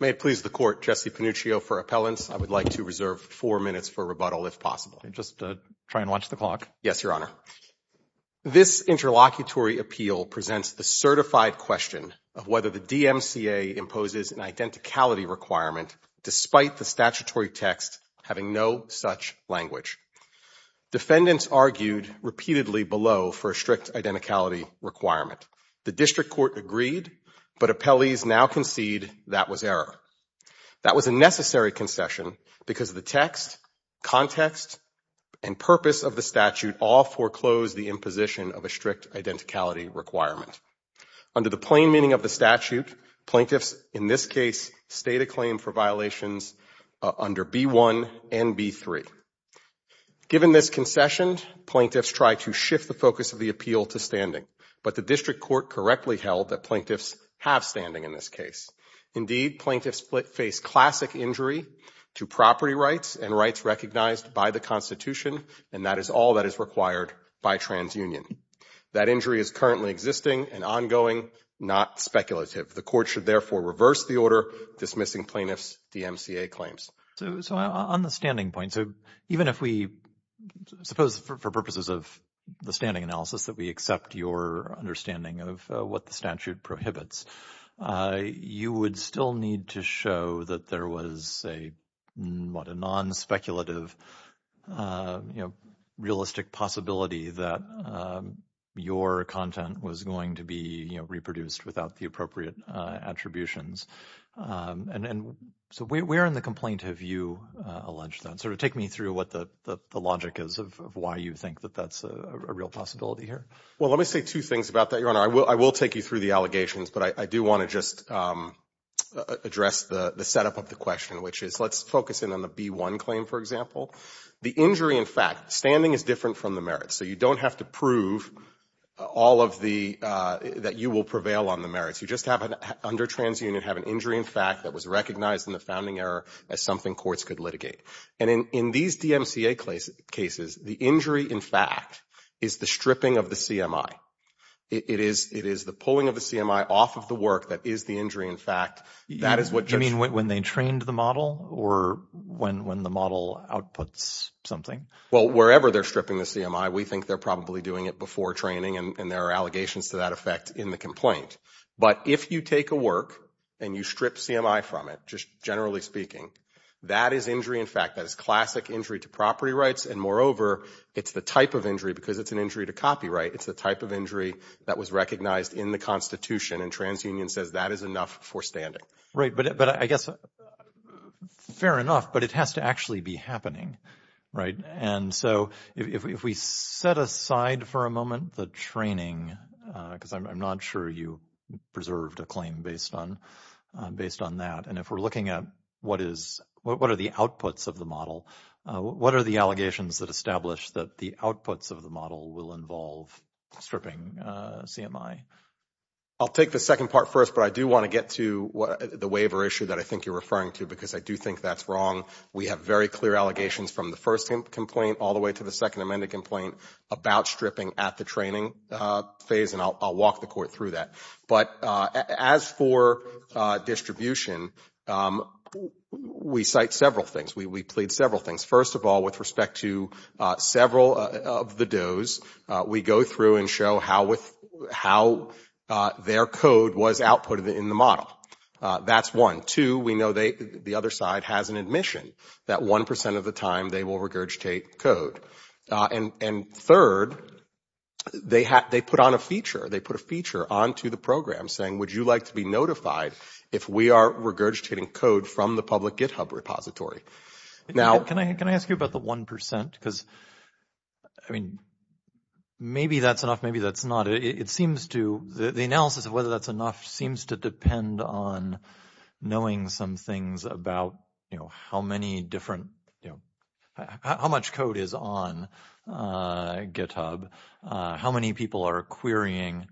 May it please the Court, Jesse Panuccio for appellants, I would like to reserve four minutes for rebuttal if possible. Just try and watch the clock. Yes, Your Honor. This interlocutory appeal presents the certified question of whether the DMCA imposes an identicality requirement despite the statutory text having no such language. Defendants argued repeatedly below for a strict identicality requirement. The district court agreed, but appellees now concede that was error. That was a necessary concession because the text, context, and purpose of the statute all foreclosed the imposition of a strict identicality requirement. Under the plain meaning of the statute, plaintiffs in this case stayed a claim for violations under B-1 and B-3. Given this concession, plaintiffs tried to shift the focus of the appeal to standing, but the district court correctly held that plaintiffs have standing in this case. Indeed, plaintiffs face classic injury to property rights and rights recognized by the Constitution, and that is all that is required by transunion. That injury is currently existing and ongoing, not speculative. The Court should therefore reverse the order dismissing plaintiffs' DMCA claims. So on the standing point, so even if we suppose for purposes of the standing analysis that we accept your understanding of what the statute prohibits, you would still need to show that there was a, what, a non-speculative, you know, realistic possibility that your content was going to be, you know, reproduced without the appropriate attributions. And so where in the complaint have you alleged that? Sort of take me through what the logic is of why you think that that's a real possibility here. Well, let me say two things about that, Your Honor. I will take you through the allegations, but I do want to just address the setup of the question, which is let's focus in on the B-1 claim, for example. The injury in fact, standing is different from the merits. So you don't have to prove all of the, that you will prevail on the merits. You just have an, under transunion, have an injury in fact that was recognized in the founding error as something courts could litigate. And in these DMCA cases, the injury in fact is the stripping of the CMI. It is the pulling of the CMI off of the work that is the injury in fact. That is what just. You mean when they trained the model or when the model outputs something? Well, wherever they're stripping the CMI, we think they're probably doing it before training and there are allegations to that effect in the complaint. But if you take a work and you strip CMI from it, just generally speaking, that is injury in fact. That is classic injury to property rights. And moreover, it's the type of injury, because it's an injury to copyright, it's the type of injury that was recognized in the Constitution and transunion says that is enough for standing. But I guess, fair enough, but it has to actually be happening. Right. And so if we set aside for a moment the training, because I'm not sure you preserved a claim based on that. And if we're looking at what is, what are the outputs of the model, what are the allegations that establish that the outputs of the model will involve stripping CMI? I'll take the second part first, but I do want to get to the waiver issue that I think you're referring to, because I do think that's wrong. We have very clear allegations from the first complaint all the way to the second amended complaint about stripping at the training phase, and I'll walk the court through that. But as for distribution, we cite several things, we plead several things. First of all, with respect to several of the does, we go through and show how their code was outputted in the model. That's one. Two, we know the other side has an admission that 1 percent of the time they will regurgitate code. And third, they put on a feature, they put a feature onto the program saying, would you like to be notified if we are regurgitating code from the public GitHub repository? Now – Can I ask you about the 1 percent, because, I mean, maybe that's enough, maybe that's not. It seems to, the analysis of whether that's enough seems to depend on knowing some things about, you know, how many different, you know, how much code is on GitHub, how many people are querying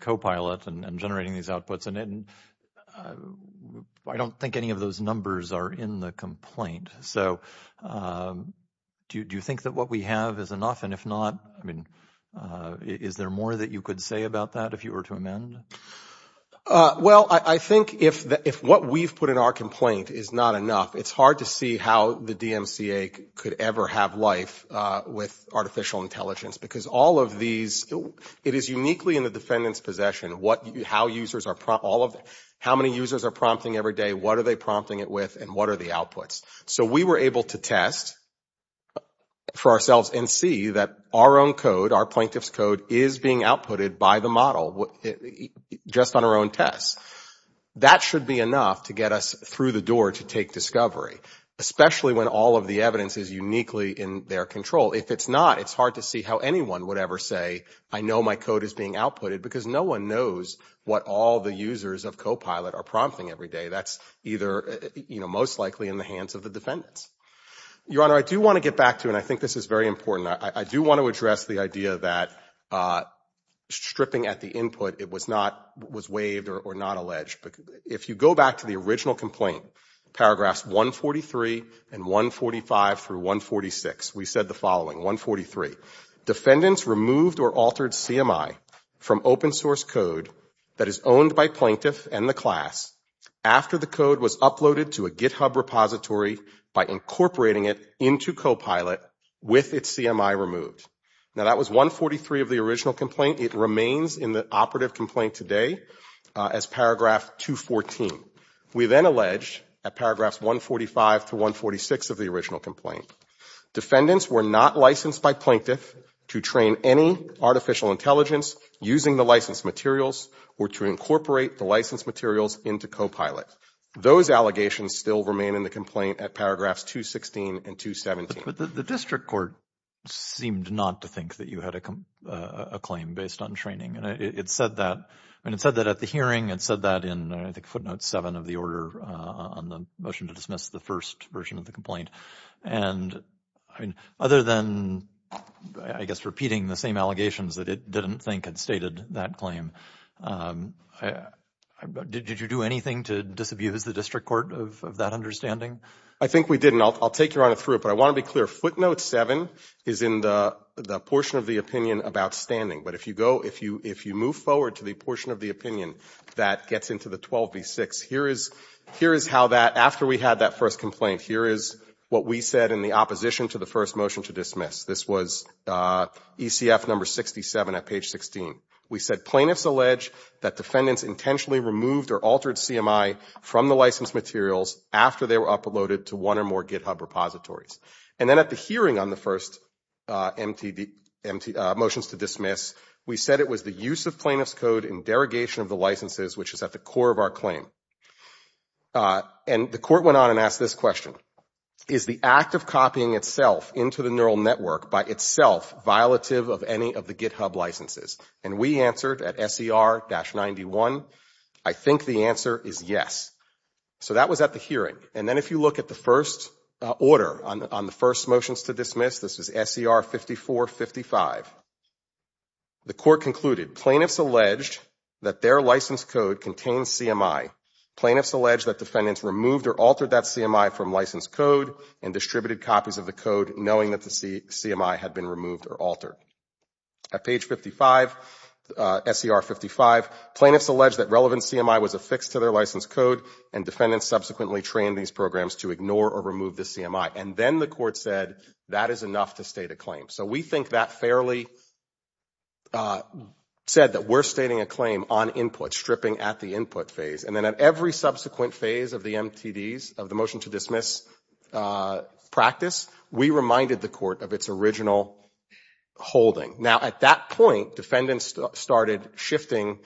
Copilot and generating these outputs, and I don't think any of those numbers are in the complaint. So do you think that what we have is enough, and if not, I mean, is there more that you could say about that if you were to amend? Well, I think if what we've put in our complaint is not enough, it's hard to see how the DMCA could ever have life with artificial intelligence, because all of these, it is uniquely in the defendant's possession what, how users are, all of, how many users are prompting every day, what are they prompting it with, and what are the outputs. So we were able to test for ourselves and see that our own code, our plaintiff's code is being outputted by the model. Just on our own tests. That should be enough to get us through the door to take discovery, especially when all of the evidence is uniquely in their control. If it's not, it's hard to see how anyone would ever say, I know my code is being outputted, because no one knows what all the users of Copilot are prompting every day. That's either, you know, most likely in the hands of the defendants. Your Honor, I do want to get back to, and I think this is very important, I do want to address the idea that stripping at the input, it was not, was waived or not alleged. If you go back to the original complaint, paragraphs 143 and 145 through 146, we said the following, 143, defendants removed or altered CMI from open source code that is owned by plaintiff and the class after the code was uploaded to a GitHub repository by incorporating it into Copilot with its CMI removed. Now that was 143 of the original complaint. It remains in the operative complaint today as paragraph 214. We then allege at paragraphs 145 to 146 of the original complaint, defendants were not licensed by plaintiff to train any artificial intelligence using the licensed materials or to incorporate the licensed materials into Copilot. Those allegations still remain in the complaint at paragraphs 216 and 217. The district court seemed not to think that you had a claim based on training. It said that, and it said that at the hearing, it said that in, I think, footnote seven of the order on the motion to dismiss the first version of the complaint. And other than, I guess, repeating the same allegations that it didn't think had stated that claim, did you do anything to disabuse the district court of that understanding? I think we didn't. I'll take you on it through it, but I want to be clear. Footnote seven is in the portion of the opinion about standing, but if you go, if you move forward to the portion of the opinion that gets into the 12B6, here is how that, after we had that first complaint, here is what we said in the opposition to the first motion to dismiss. This was ECF number 67 at page 16. We said, plaintiffs allege that defendants intentionally removed or altered CMI from the licensed materials after they were uploaded to one or more GitHub repositories. And then at the hearing on the first motions to dismiss, we said it was the use of plaintiff's code in derogation of the licenses, which is at the core of our claim. And the court went on and asked this question. Is the act of copying itself into the neural network by itself violative of any of the GitHub licenses? And we answered at SER-91, I think the answer is yes. So that was at the hearing. And then if you look at the first order on the first motions to dismiss, this is SER-54-55. The court concluded, plaintiffs alleged that their license code contains CMI. Plaintiffs allege that defendants removed or altered that CMI from license code and distributed copies of the code knowing that the CMI had been removed or altered. At page 55, SER-55, plaintiffs allege that relevant CMI was affixed to their license code and defendants subsequently trained these programs to ignore or remove the CMI. And then the court said, that is enough to state a claim. So we think that fairly said that we're stating a claim on input, stripping at the input phase. And then at every subsequent phase of the MTDs, of the motion to dismiss practice, we reminded the court of its original holding. Now at that point, defendants started shifting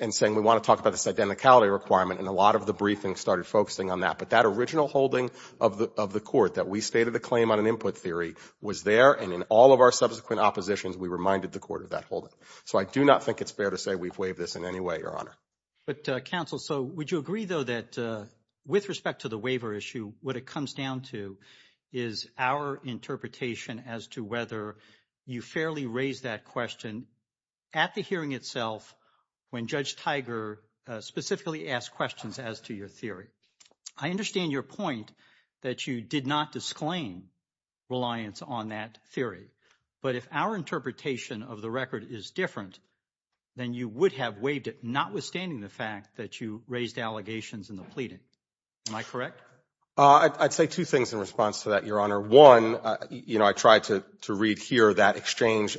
and saying, we want to talk about this identicality requirement and a lot of the briefings started focusing on that. But that original holding of the court that we stated the claim on an input theory was there and in all of our subsequent oppositions, we reminded the court of that holding. So I do not think it's fair to say we've waived this in any way, Your Honor. But counsel, so would you agree though, that with respect to the waiver issue, what it comes down to is our interpretation as to whether you fairly raised that question at the hearing itself, when Judge Tiger specifically asked questions as to your theory. I understand your point that you did not disclaim reliance on that theory. But if our interpretation of the record is different, then you would have waived it, notwithstanding the fact that you raised allegations in the pleading. Am I correct? I'd say two things in response to that, Your Honor. One, you know, I tried to read here that exchange,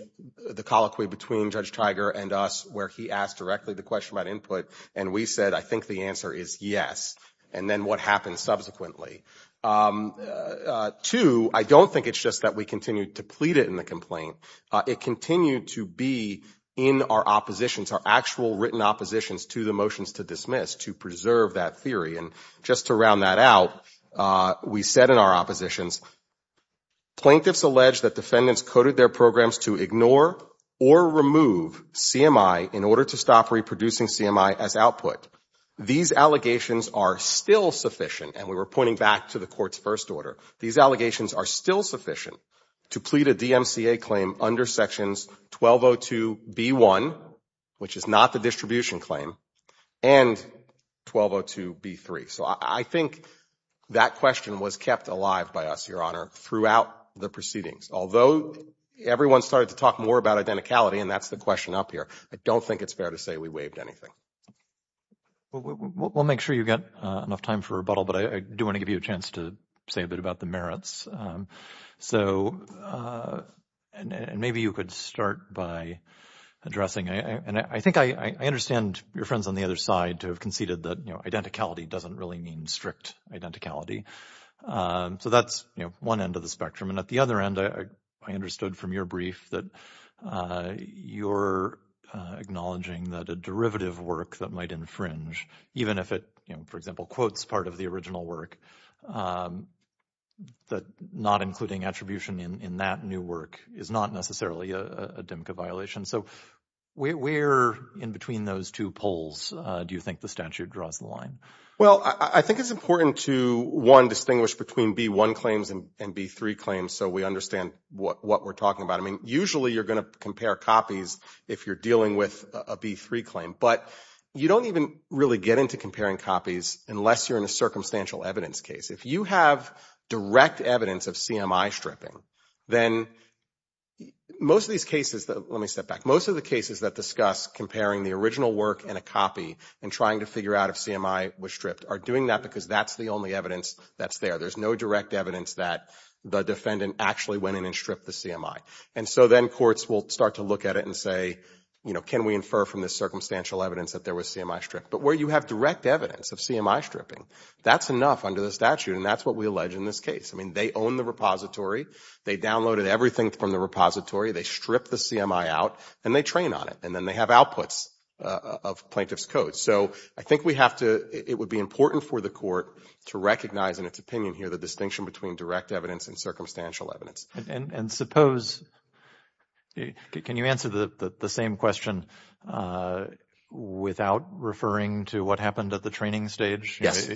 the colloquy between Judge Tiger and us where he asked directly the question about input and we said, I think the answer is yes. And then what happened subsequently? Two, I don't think it's just that we continued to plead it in the complaint. It continued to be in our oppositions, our actual written oppositions to the motions to dismiss to preserve that theory. And just to round that out, we said in our oppositions, plaintiffs allege that defendants coded their programs to ignore or remove CMI in order to stop reproducing CMI as output. These allegations are still sufficient, and we were pointing back to the court's first order. These allegations are still sufficient to plead a DMCA claim under Sections 1202B1, which is not the distribution claim, and 1202B3. So I think that question was kept alive by us, Your Honor, throughout the proceedings. Although everyone started to talk more about identicality, and that's the question up here, I don't think it's fair to say we waived anything. We'll make sure you've got enough time for rebuttal, but I do want to give you a chance to say a bit about the merits. So maybe you could start by addressing, and I think I understand your friends on the other side to have conceded that, you know, identicality doesn't really mean strict identicality. So that's, you know, one end of the spectrum. And at the other end, I understood from your brief that you're acknowledging that a derivative work that might infringe, even if it, you know, for example, quotes part of the original work, that not including attribution in that new work is not necessarily a DMCA violation. So where in between those two poles do you think the statute draws the line? Well, I think it's important to, one, distinguish between B1 claims and B3 claims, so we understand what we're talking about. I mean, usually you're going to compare copies if you're dealing with a B3 claim, but you don't even really get into comparing copies unless you're in a circumstantial evidence case. If you have direct evidence of CMI stripping, then most of these cases, let me step back, most of the cases that discuss comparing the original work and a copy and trying to figure out if CMI was stripped are doing that because that's the only evidence that's there. There's no direct evidence that the defendant actually went in and stripped the CMI. And so then courts will start to look at it and say, you know, can we infer from this circumstantial evidence that there was CMI stripped? But where you have direct evidence of CMI stripping, that's enough under the statute, and that's what we allege in this case. I mean, they own the repository. They downloaded everything from the repository. They stripped the CMI out, and they train on it, and then they have outputs of plaintiff's code. So I think we have to, it would be important for the court to recognize in its opinion here the distinction between direct evidence and circumstantial evidence. And suppose, can you answer the same question without referring to what happened at the training stage? Yes.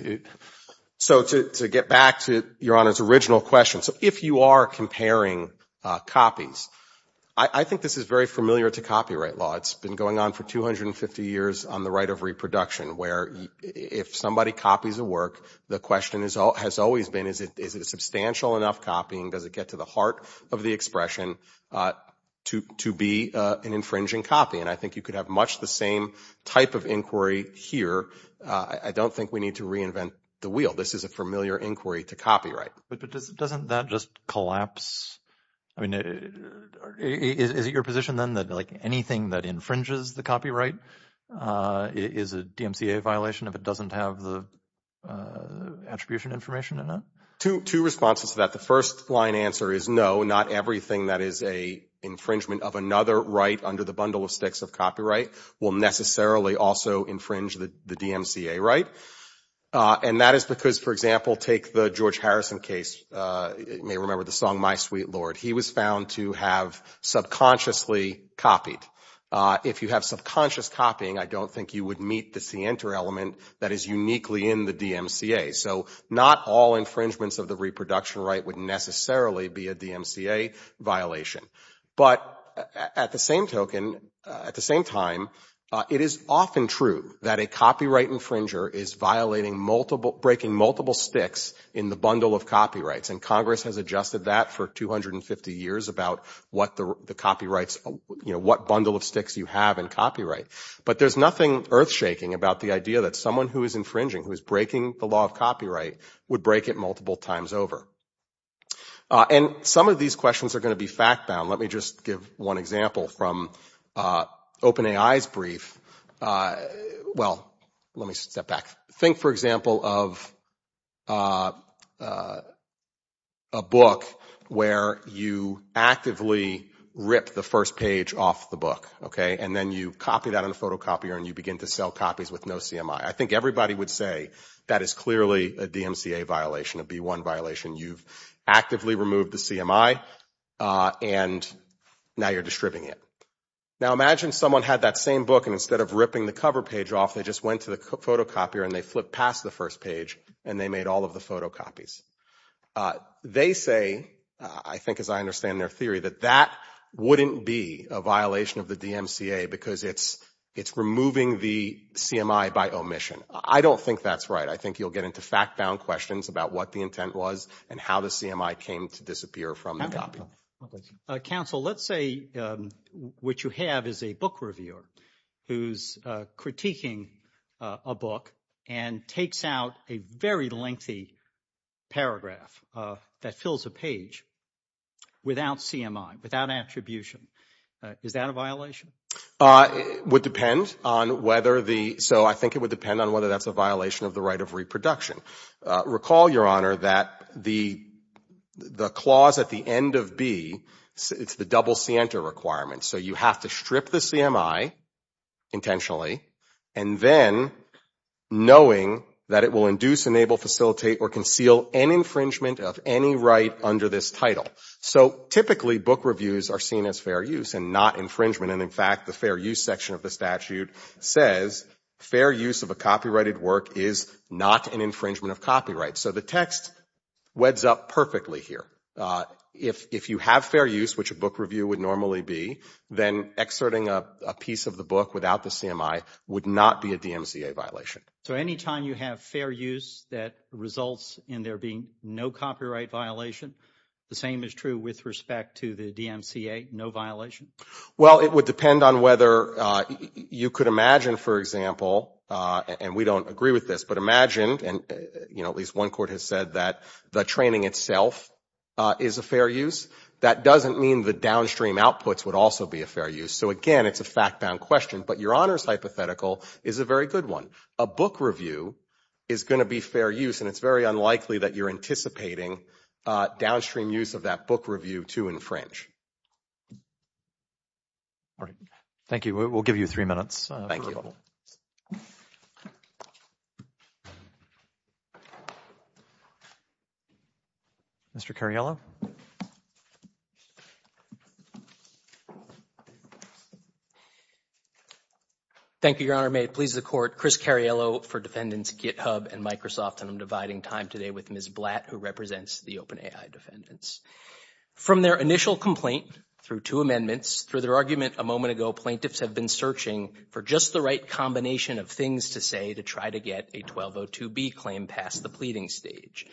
So to get back to Your Honor's original question, so if you are comparing copies, I think this is very familiar to copyright law. It's been going on for 250 years on the right of reproduction, where if somebody copies a work, the question has always been, is it substantial enough copying, does it get to the heart of the expression, to be an infringing copy? And I think you could have much the same type of inquiry here. I don't think we need to reinvent the wheel. This is a familiar inquiry to copyright. But doesn't that just collapse, I mean, is it your position then that like anything that infringes the copyright is a DMCA violation if it doesn't have the attribution information in it? Two responses to that. The first line answer is no, not everything that is an infringement of another right under the bundle of sticks of copyright will necessarily also infringe the DMCA right. And that is because, for example, take the George Harrison case, you may remember the song My Sweet Lord. And he was found to have subconsciously copied. If you have subconscious copying, I don't think you would meet the scienter element that is uniquely in the DMCA. So not all infringements of the reproduction right would necessarily be a DMCA violation. But at the same token, at the same time, it is often true that a copyright infringer is violating multiple, breaking multiple sticks in the bundle of copyrights. And Congress has adjusted that for 250 years about what the copyrights, you know, what bundle of sticks you have in copyright. But there is nothing earth-shaking about the idea that someone who is infringing, who is breaking the law of copyright, would break it multiple times over. And some of these questions are going to be fact-bound. Let me just give one example from OpenAI's brief, well, let me step back. Think, for example, of a book where you actively rip the first page off the book, okay? And then you copy that in a photocopier and you begin to sell copies with no CMI. I think everybody would say that is clearly a DMCA violation, a B1 violation. You've actively removed the CMI and now you're distributing it. Now imagine someone had that same book and instead of ripping the cover page off, they just went to the photocopier and they flipped past the first page and they made all of the photocopies. They say, I think as I understand their theory, that that wouldn't be a violation of the DMCA because it's removing the CMI by omission. I don't think that's right. I think you'll get into fact-bound questions about what the intent was and how the CMI came to disappear from the copy. Counsel, let's say what you have is a book reviewer who's critiquing a book and takes out a very lengthy paragraph that fills a page without CMI, without attribution. Is that a violation? Would depend on whether the, so I think it would depend on whether that's a violation of the right of reproduction. Recall, Your Honor, that the clause at the end of B, it's the double scienter requirement. So you have to strip the CMI intentionally and then knowing that it will induce, enable, facilitate, or conceal an infringement of any right under this title. So typically book reviews are seen as fair use and not infringement and in fact the fair use section of the statute says fair use of a copyrighted work is not an infringement of copyright. So the text weds up perfectly here. If you have fair use, which a book review would normally be, then exerting a piece of the book without the CMI would not be a DMCA violation. So anytime you have fair use that results in there being no copyright violation, the same is true with respect to the DMCA, no violation? Well, it would depend on whether you could imagine, for example, and we don't agree with this, but imagine and at least one court has said that the training itself is a fair use. That doesn't mean the downstream outputs would also be a fair use. So again, it's a fact-bound question. But Your Honor's hypothetical is a very good one. A book review is going to be fair use and it's very unlikely that you're anticipating downstream use of that book review to infringe. All right. Thank you. We'll give you three minutes. Mr. Cariello? Thank you, Your Honor. May it please the Court. Chris Cariello for Defendants Github and Microsoft and I'm dividing time today with Ms. Blatt who represents the OpenAI defendants. From their initial complaint through two amendments, through their argument a moment ago, plaintiffs have been searching for just the right combination of things to say to try to get a 1202B claim past the pleading stage.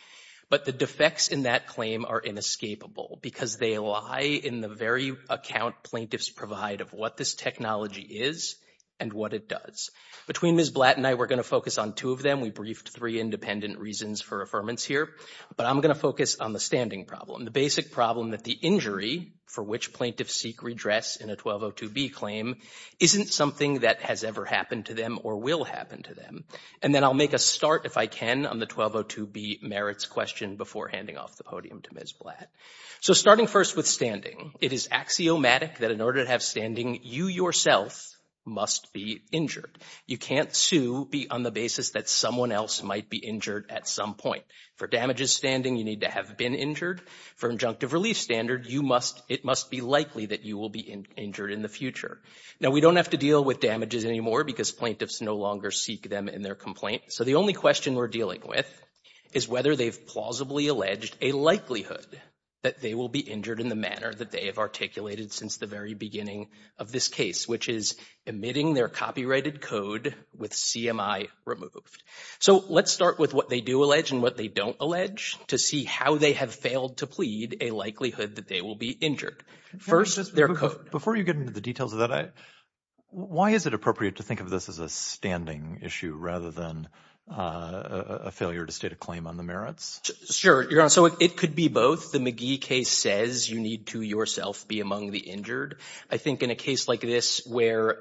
But the defects in that claim are inescapable because they lie in the very account plaintiffs provide of what this technology is and what it does. Between Ms. Blatt and I, we're going to focus on two of them. We briefed three independent reasons for affirmance here, but I'm going to focus on the standing problem. The basic problem that the injury for which plaintiffs seek redress in a 1202B claim isn't something that has ever happened to them or will happen to them. And then I'll make a start, if I can, on the 1202B merits question before handing off the podium to Ms. Blatt. So starting first with standing. It is axiomatic that in order to have standing, you yourself must be injured. You can't sue on the basis that someone else might be injured at some point. For damages standing, you need to have been injured. For injunctive relief standard, it must be likely that you will be injured in the future. Now we don't have to deal with damages anymore because plaintiffs no longer seek them in their complaint. So the only question we're dealing with is whether they've plausibly alleged a likelihood that they will be injured in the manner that they have articulated since the very beginning of this case, which is emitting their copyrighted code with CMI removed. So let's start with what they do allege and what they don't allege to see how they have failed to plead a likelihood that they will be injured. First their code. Before you get into the details of that, why is it appropriate to think of this as a standing issue rather than a failure to state a claim on the merits? Sure. You're on. So it could be both. The McGee case says you need to yourself be among the injured. I think in a case like this where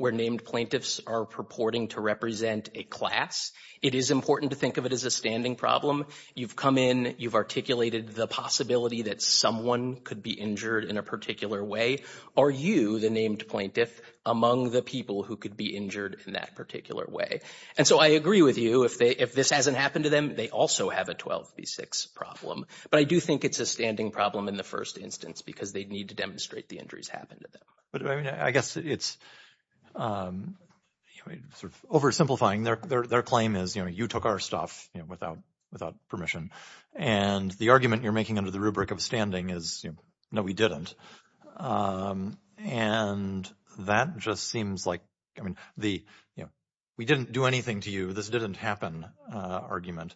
named plaintiffs are purporting to represent a class, it is important to think of it as a standing problem. You've come in. You've articulated the possibility that someone could be injured in a particular way. Are you, the named plaintiff, among the people who could be injured in that particular way? And so I agree with you. If this hasn't happened to them, they also have a 12B6 problem. But I do think it's a standing problem in the first instance because they need to demonstrate the injuries happened to them. But, I mean, I guess it's sort of oversimplifying. Their claim is, you know, you took our stuff, you know, without permission. And the argument you're making under the rubric of standing is, you know, no, we didn't. And that just seems like, I mean, the, you know, we didn't do anything to you. This didn't happen argument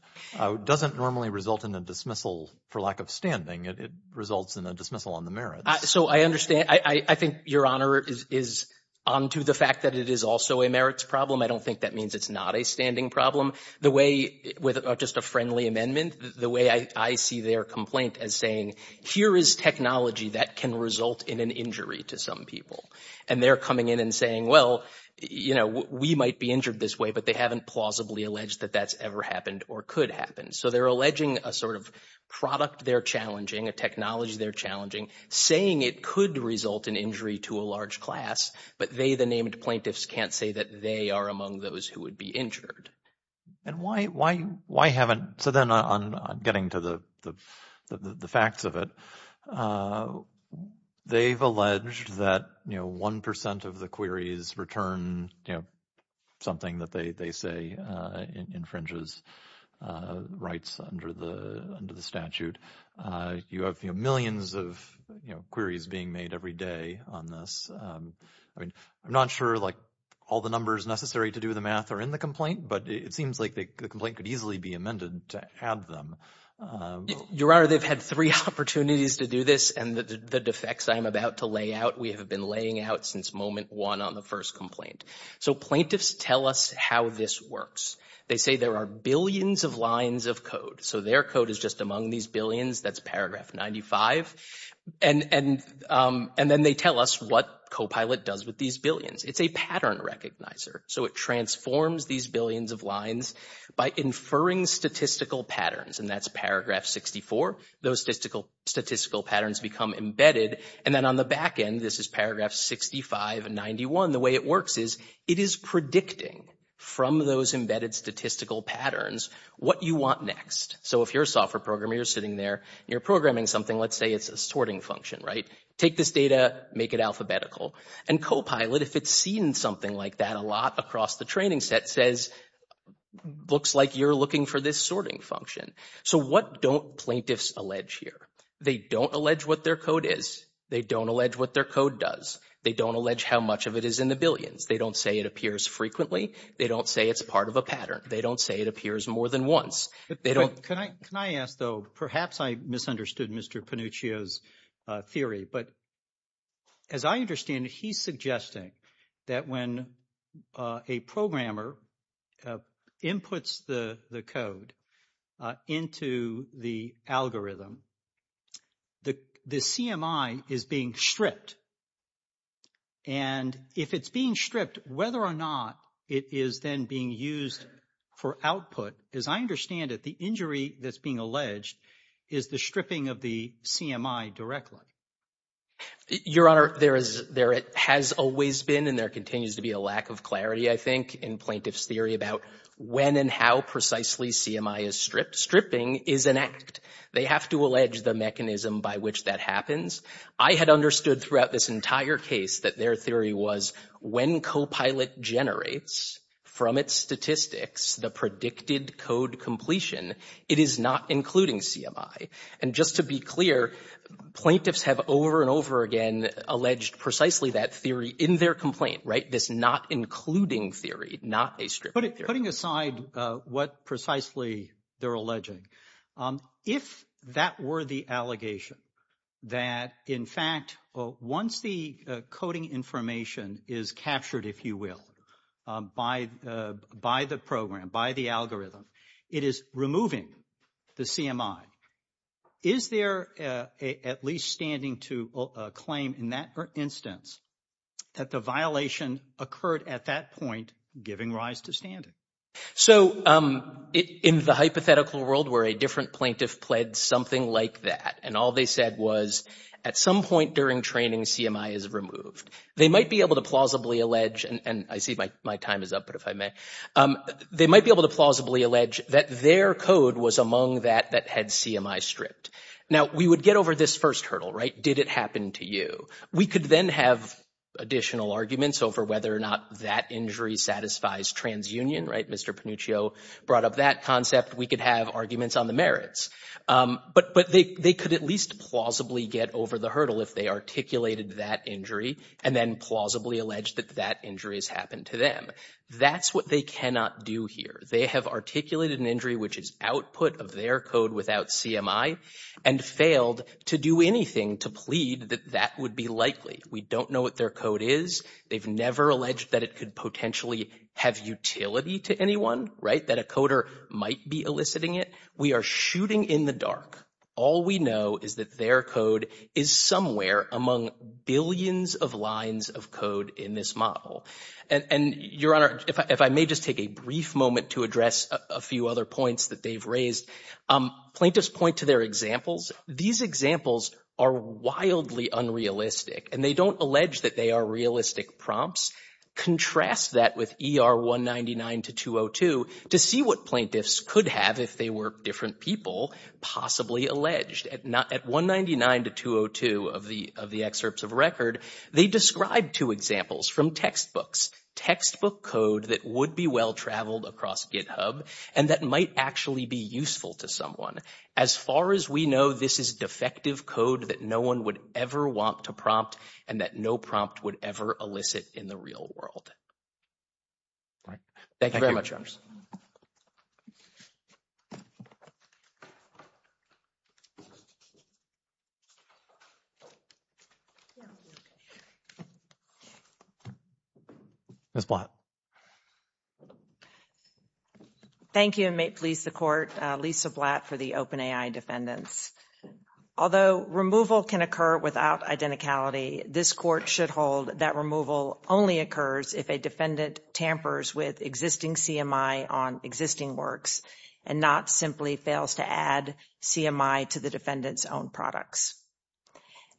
doesn't normally result in a dismissal for lack of standing. It results in a dismissal on the merits. So I understand. I think, Your Honor, is onto the fact that it is also a merits problem. I don't think that means it's not a standing problem. The way, with just a friendly amendment, the way I see their complaint as saying, here is technology that can result in an injury to some people. And they're coming in and saying, well, you know, we might be injured this way. But they haven't plausibly alleged that that's ever happened or could happen. So they're alleging a sort of product they're challenging, a technology they're challenging, saying it could result in injury to a large class. But they, the named plaintiffs, can't say that they are among those who would be injured. And why haven't, so then on getting to the facts of it, they've alleged that, you know, 1% of the queries return, you know, something that they say infringes rights under the statute. You have, you know, millions of, you know, queries being made every day on this. I mean, I'm not sure, like, all the numbers necessary to do the math are in the complaint. But it seems like the complaint could easily be amended to have them. Your Honor, they've had three opportunities to do this. And the defects I'm about to lay out, we have been laying out since moment one on the first complaint. So plaintiffs tell us how this works. They say there are billions of lines of code. So their code is just among these billions. That's paragraph 95. And then they tell us what Copilot does with these billions. It's a pattern recognizer. So it transforms these billions of lines by inferring statistical patterns. And that's paragraph 64. Those statistical patterns become embedded. And then on the back end, this is paragraph 65 and 91. The way it works is it is predicting from those embedded statistical patterns what you want next. So if you're a software programmer, you're sitting there, you're programming something, let's say it's a sorting function, right? Take this data, make it alphabetical. And Copilot, if it's seen something like that a lot across the training set, says, looks like you're looking for this sorting function. So what don't plaintiffs allege here? They don't allege what their code is. They don't allege what their code does. They don't allege how much of it is in the billions. They don't say it appears frequently. They don't say it's part of a pattern. They don't say it appears more than once. They don't... Can I ask, though, perhaps I misunderstood Mr. Panuccio's theory. But as I understand it, he's suggesting that when a programmer inputs the code into the algorithm, the CMI is being stripped. And if it's being stripped, whether or not it is then being used for output, as I understand it, the injury that's being alleged is the stripping of the CMI directly. Your Honor, there has always been and there continues to be a lack of clarity, I think, in plaintiff's theory about when and how precisely CMI is stripped. Stripping is an act. They have to allege the mechanism by which that happens. I had understood throughout this entire case that their theory was when Copilot generates from its statistics the predicted code completion, it is not including CMI. And just to be clear, plaintiffs have over and over again alleged precisely that theory in their complaint, right? This not including theory, not a stripped theory. Putting aside what precisely they're alleging, if that were the allegation that, in fact, once the coding information is captured, if you will, by the program, by the algorithm, it is removing the CMI, is there at least standing to a claim in that instance that the violation occurred at that point giving rise to standing? So in the hypothetical world where a different plaintiff pledged something like that and all they said was at some point during training CMI is removed, they might be able to plausibly allege and I see my time is up, but if I may, they might be able to plausibly allege that their code was among that that had CMI stripped. Now we would get over this first hurdle, right? Did it happen to you? We could then have additional arguments over whether or not that injury satisfies transunion, right? Mr. Panuccio brought up that concept. We could have arguments on the merits. But they could at least plausibly get over the hurdle if they articulated that injury and then plausibly alleged that that injury has happened to them. That's what they cannot do here. They have articulated an injury which is output of their code without CMI and failed to do anything to plead that that would be likely. We don't know what their code is. They've never alleged that it could potentially have utility to anyone, right, that a coder might be eliciting it. We are shooting in the dark. All we know is that their code is somewhere among billions of lines of code in this model. And Your Honor, if I may just take a brief moment to address a few other points that they've raised. Plaintiffs point to their examples. These examples are wildly unrealistic. And they don't allege that they are realistic prompts. Contrast that with ER 199-202 to see what plaintiffs could have if they were different people possibly alleged. At 199-202 of the excerpts of record, they described two examples from textbooks, textbook code that would be well-traveled across GitHub and that might actually be useful to someone. As far as we know, this is defective code that no one would ever want to prompt and that no prompt would ever elicit in the real world. Thank you very much, Your Honor. Ms. Blatt. Thank you, and may it please the Court, Lisa Blatt for the open AI defendants. Although removal can occur without identicality, this Court should hold that removal only occurs if a defendant tampers with existing CMI on existing works and not simply fails to add CMI to the defendant's own products.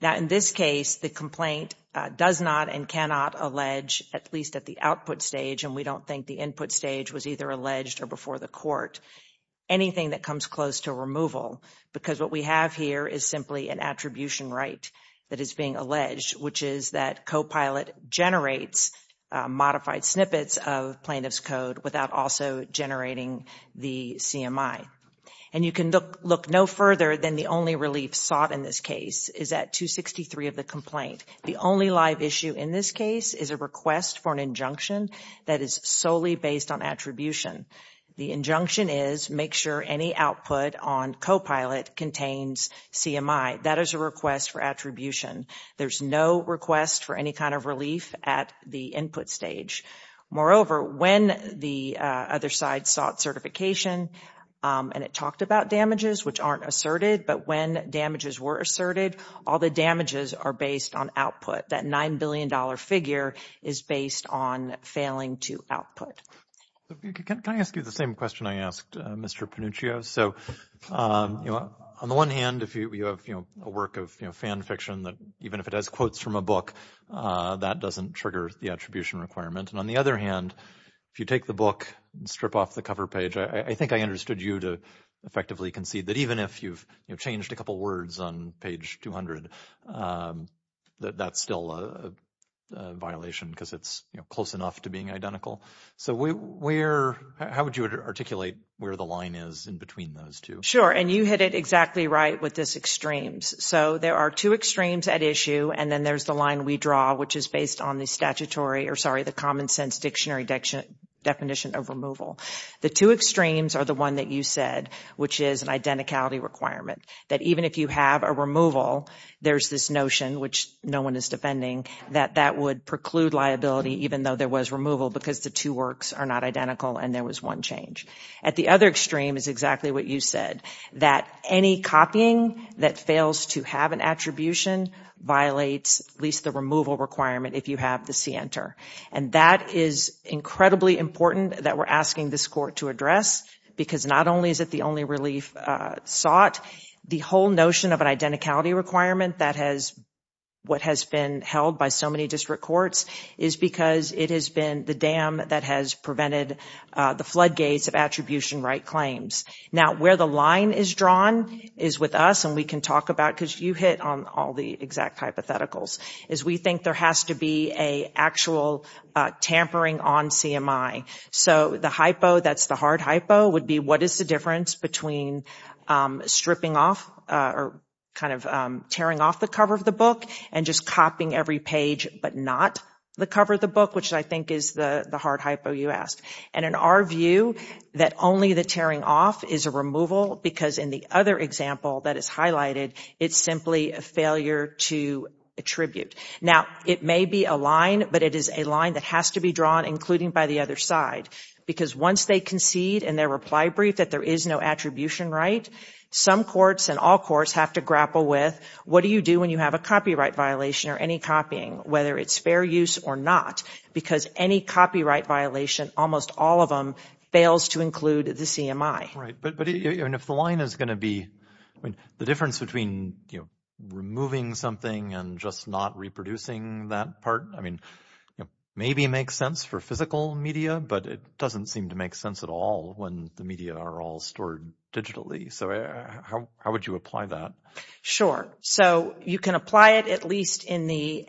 Now, in this case, the complaint does not and cannot allege, at least at the output stage, and we don't think the input stage was either alleged or before the Court, anything that comes close to removal because what we have here is simply an attribution right that is being alleged, which is that Copilot generates modified snippets of plaintiff's code without also generating the CMI. And you can look no further than the only relief sought in this case is at 263 of the complaint. The only live issue in this case is a request for an injunction that is solely based on attribution. The injunction is, make sure any output on Copilot contains CMI. That is a request for attribution. There's no request for any kind of relief at the input stage. Moreover, when the other side sought certification and it talked about damages, which aren't that $9 billion figure is based on failing to output. Can I ask you the same question I asked Mr. Panuccio? So, on the one hand, if you have a work of fan fiction that even if it has quotes from a book, that doesn't trigger the attribution requirement. And on the other hand, if you take the book and strip off the cover page, I think I understood you to effectively concede that even if you've changed a couple of words on page 200, that that's still a violation because it's close enough to being identical. So, how would you articulate where the line is in between those two? Sure, and you hit it exactly right with this extremes. So, there are two extremes at issue and then there's the line we draw, which is based on the common sense dictionary definition of removal. The two extremes are the one that you said, which is an identicality requirement. That even if you have a removal, there's this notion, which no one is defending, that that would preclude liability even though there was removal because the two works are not identical and there was one change. At the other extreme is exactly what you said, that any copying that fails to have an attribution violates at least the removal requirement if you have the C enter. And that is incredibly important that we're asking this court to address because not only is it the only relief sought, the whole notion of an identicality requirement that has what has been held by so many district courts is because it has been the dam that has prevented the floodgates of attribution right claims. Now, where the line is drawn is with us and we can talk about, because you hit on all the exact hypotheticals, is we think there has to be an actual tampering on CMI. So the hypo, that's the hard hypo, would be what is the difference between stripping off or kind of tearing off the cover of the book and just copying every page but not the cover of the book, which I think is the hard hypo you asked. And in our view, that only the tearing off is a removal because in the other example that is highlighted, it's simply a failure to attribute. Now, it may be a line, but it is a line that has to be drawn, including by the other side. Because once they concede in their reply brief that there is no attribution right, some courts and all courts have to grapple with what do you do when you have a copyright violation or any copying, whether it's fair use or not. Because any copyright violation, almost all of them, fails to include the CMI. Right, but if the line is going to be, I mean, the difference between, you know, removing something and just not reproducing that part, I mean, maybe it makes sense for physical media, but it doesn't seem to make sense at all when the media are all stored digitally. So how would you apply that? Sure. So you can apply it at least in the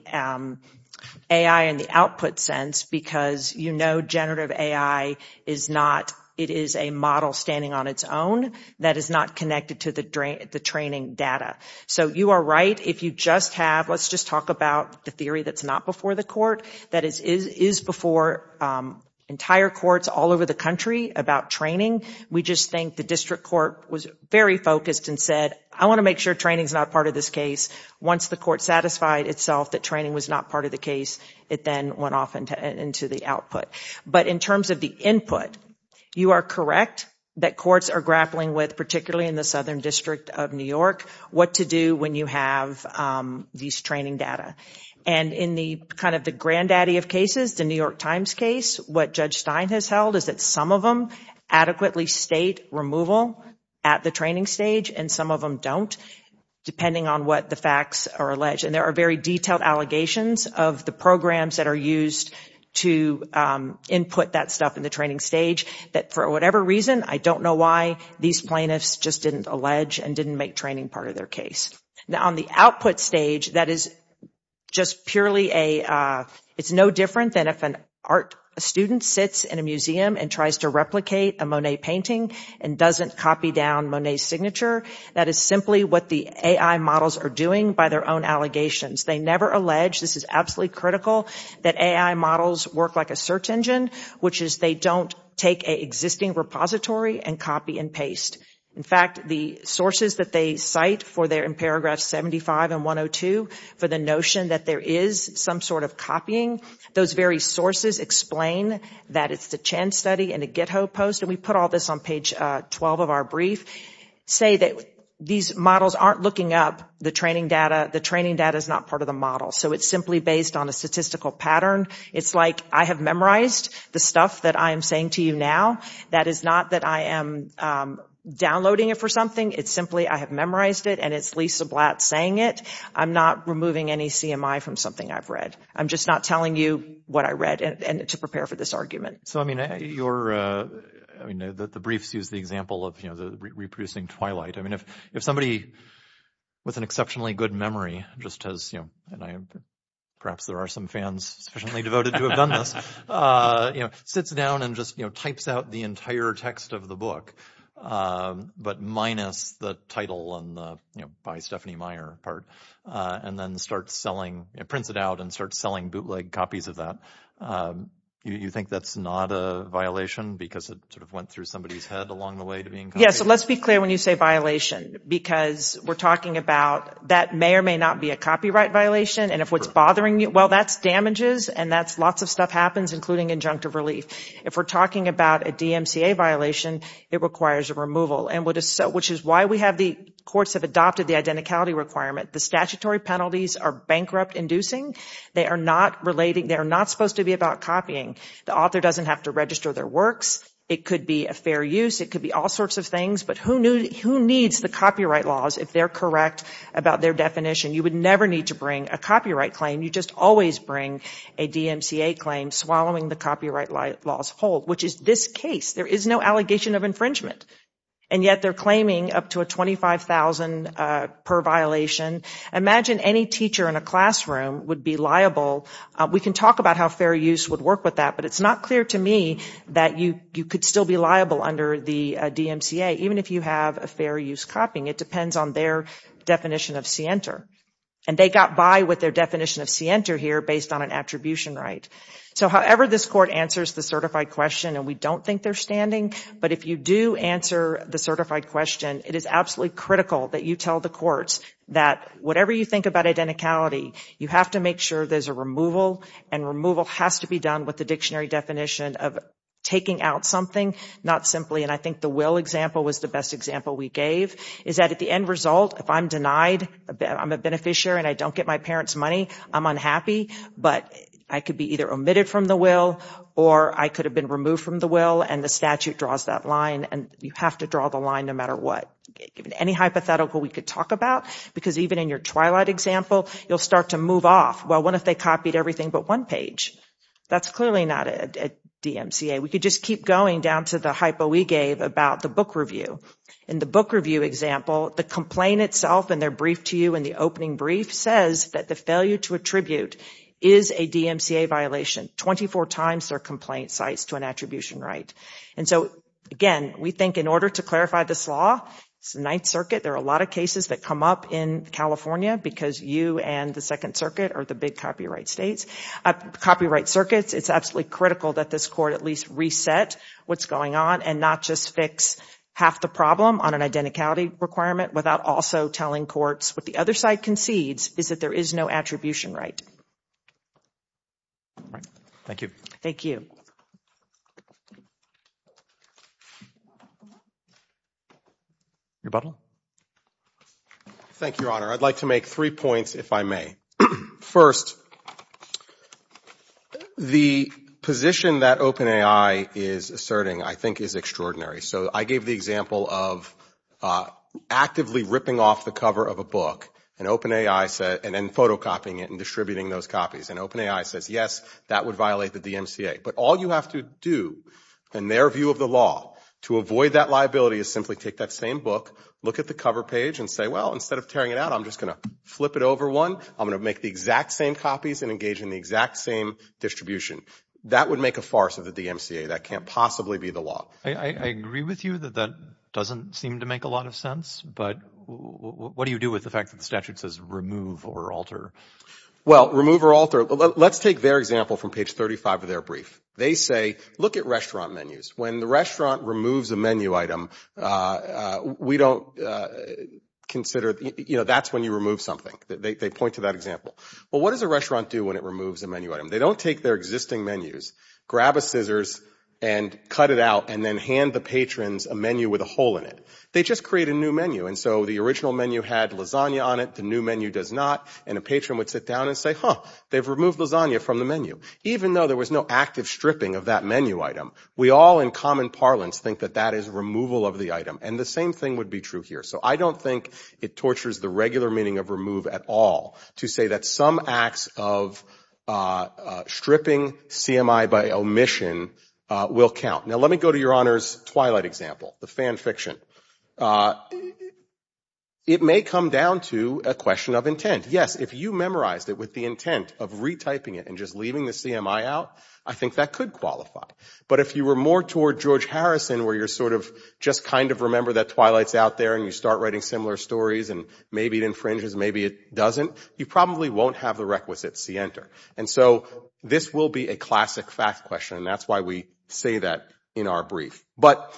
AI and the output sense because you know generative AI is not, it is a model standing on its own that is not connected to the training data. So you are right if you just have, let's just talk about the theory that is not before the court, that is before entire courts all over the country about training. We just think the district court was very focused and said, I want to make sure training is not part of this case. Once the court satisfied itself that training was not part of the case, it then went off into the output. But in terms of the input, you are correct that courts are grappling with, particularly in the Southern District of New York, what to do when you have these training data. And in the kind of the granddaddy of cases, the New York Times case, what Judge Stein has held is that some of them adequately state removal at the training stage and some of them don't, depending on what the facts are alleged. And there are very detailed allegations of the programs that are used to input that stuff in the training stage that, for whatever reason, I don't know why these plaintiffs just didn't allege and didn't make training part of their case. Now on the output stage, that is just purely a, it's no different than if an art student sits in a museum and tries to replicate a Monet painting and doesn't copy down Monet's That is simply what the AI models are doing by their own allegations. They never allege, this is absolutely critical, that AI models work like a search engine, which is they don't take an existing repository and copy and paste. In fact, the sources that they cite for their, in paragraphs 75 and 102, for the notion that there is some sort of copying, those very sources explain that it's the Chen study in a GitHub post, and we put all this on page 12 of our brief, say that these models aren't looking up the training data. The training data is not part of the model. So it's simply based on a statistical pattern. It's like I have memorized the stuff that I am saying to you now. That is not that I am downloading it for something. It's simply I have memorized it, and it's Lisa Blatt saying it. I'm not removing any CMI from something I've read. I'm just not telling you what I read to prepare for this argument. So, I mean, the briefs use the example of reproducing Twilight. I mean, if somebody with an exceptionally good memory just has, you know, and perhaps there are some fans sufficiently devoted to have done this, you know, sits down and just, you know, types out the entire text of the book, but minus the title on the, you know, by Stephanie Meyer part, and then starts selling, prints it out and starts selling bootleg copies of that, you think that's not a violation because it sort of went through somebody's head along the way to being copied? Yeah, so let's be clear when you say violation because we're talking about that may or may not be a copyright violation, and if what's bothering you, well, that's damages, and that's lots of stuff happens, including injunctive relief. If we're talking about a DMCA violation, it requires a removal, which is why we have the courts have adopted the identicality requirement. The statutory penalties are bankrupt-inducing. They are not supposed to be about copying. The author doesn't have to register their works. It could be a fair use. It could be all sorts of things, but who needs the copyright laws if they're correct about their definition? You would never need to bring a copyright claim. You just always bring a DMCA claim swallowing the copyright laws whole, which is this case. There is no allegation of infringement, and yet they're claiming up to a $25,000 per violation. Imagine any teacher in a classroom would be liable. We can talk about how fair use would work with that, but it's not clear to me that you could still be liable under the DMCA, even if you have a fair use copying. It depends on their definition of scienter, and they got by with their definition of scienter here based on an attribution right. However, this court answers the certified question, and we don't think they're standing, but if you do answer the certified question, it is absolutely critical that you tell the courts that whatever you think about identicality, you have to make sure there's a removal, and removal has to be done with the dictionary definition of taking out something, not simply, and I think the will example was the best example we gave, is that at the end result, if I'm denied, I'm a beneficiary, and I don't get my parents' money, I'm unhappy, but I could be either omitted from the will, or I could have been removed from the will, and the statute draws that line, and you have to draw the line no matter what. Any hypothetical we could talk about, because even in your twilight example, you'll start to move off. Well, what if they copied everything but one page? That's clearly not a DMCA. We could just keep going down to the hypo we gave about the book review. In the book review example, the complaint itself in their brief to you in the opening brief says that the failure to attribute is a DMCA violation 24 times their complaint cites to an attribution right. And so, again, we think in order to clarify this law, it's the Ninth Circuit. There are a lot of cases that come up in California because you and the Second Circuit are the big copyright states. Copyright circuits, it's absolutely critical that this court at least reset what's going on and not just fix half the problem on an identicality requirement without also telling courts what the other side concedes is that there is no attribution right. Thank you. Thank you. Your button. Thank you, Your Honor. I'd like to make three points, if I may. First, the position that OpenAI is asserting I think is extraordinary. So I gave the example of actively ripping off the cover of a book and OpenAI said and then photocopying it and distributing those copies. And OpenAI says, yes, that would violate the DMCA. But all you have to do in their view of the law to avoid that liability is simply take that same book, look at the cover page and say, well, instead of tearing it out, I'm just going to flip it over one. I'm going to make the exact same copies and engage in the exact same distribution. That would make a farce of the DMCA. That can't possibly be the law. I agree with you that that doesn't seem to make a lot of sense. But what do you do with the fact that the statute says remove or alter? Well, remove or alter, let's take their example from page 35 of their brief. They say, look at restaurant menus. When the restaurant removes a menu item, we don't consider, you know, that's when you remove something. They point to that example. Well, what does a restaurant do when it removes a menu item? They don't take their existing menus, grab a scissors and cut it out and then hand the patrons a menu with a hole in it. They just create a new menu. And so the original menu had lasagna on it. The new menu does not. And a patron would sit down and say, huh, they've removed lasagna from the menu. Even though there was no active stripping of that menu item, we all in common parlance think that that is removal of the item. And the same thing would be true here. So I don't think it tortures the regular meaning of remove at all to say that some acts of stripping CMI by omission will count. Now, let me go to Your Honor's Twilight example, the fan fiction. It may come down to a question of intent. Yes, if you memorized it with the intent of retyping it and just leaving the CMI out, I think that could qualify. But if you were more toward George Harrison where you're sort of just kind of remember that Twilight's out there and you start writing similar stories and maybe it infringes, maybe it doesn't, you probably won't have the requisite C enter. And so this will be a classic fact question, and that's why we say that in our brief. But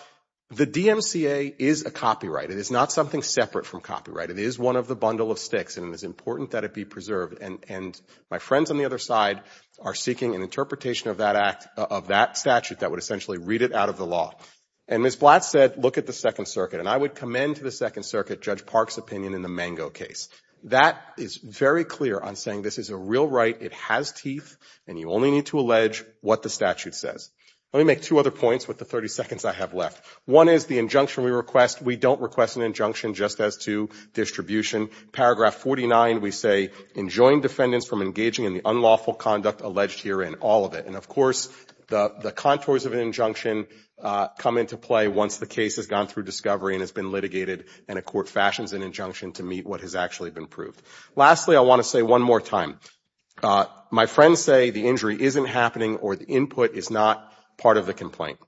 the DMCA is a copyright. It is not something separate from copyright. It is one of the bundle of sticks, and it is important that it be preserved. And my friends on the other side are seeking an interpretation of that statute that would essentially read it out of the law. And Ms. Blatt said look at the Second Circuit, and I would commend to the Second Circuit Judge Park's opinion in the Mango case. That is very clear on saying this is a real right. It has teeth, and you only need to allege what the statute says. Let me make two other points with the 30 seconds I have left. One is the injunction we request. We don't request an injunction just as to distribution. Paragraph 49 we say enjoined defendants from engaging in the unlawful conduct alleged herein. All of it. And, of course, the contours of an injunction come into play once the case has gone through discovery and has been litigated, and a court fashions an injunction to meet what has actually been proved. Lastly, I want to say one more time, my friends say the injury isn't happening or the input is not part of the complaint.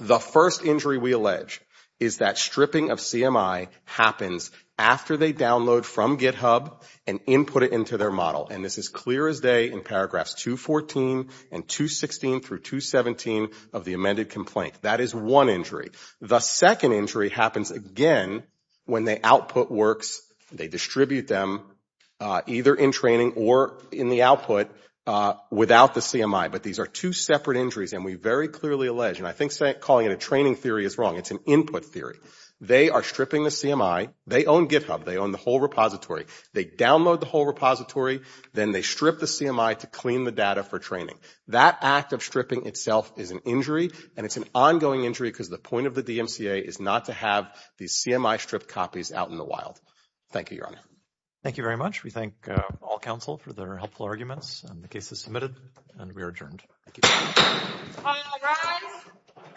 The first injury we allege is that stripping of CMI happens after they download from GitHub and input it into their model. And this is clear as day in paragraphs 214 and 216 through 217 of the amended complaint. That is one injury. The second injury happens again when the output works. They distribute them either in training or in the output without the CMI. But these are two separate injuries, and we very clearly allege, and I think calling it a training theory is wrong. It's an input theory. They are stripping the CMI. They own GitHub. They own the whole repository. They download the whole repository. Then they strip the CMI to clean the data for training. That act of stripping itself is an injury, and it's an ongoing injury because the point of the DMCA is not to have these CMI stripped copies out in the wild. Thank you, Your Honor. Thank you very much. We thank all counsel for their helpful arguments and the cases submitted, and we are adjourned. Thank you. All rise.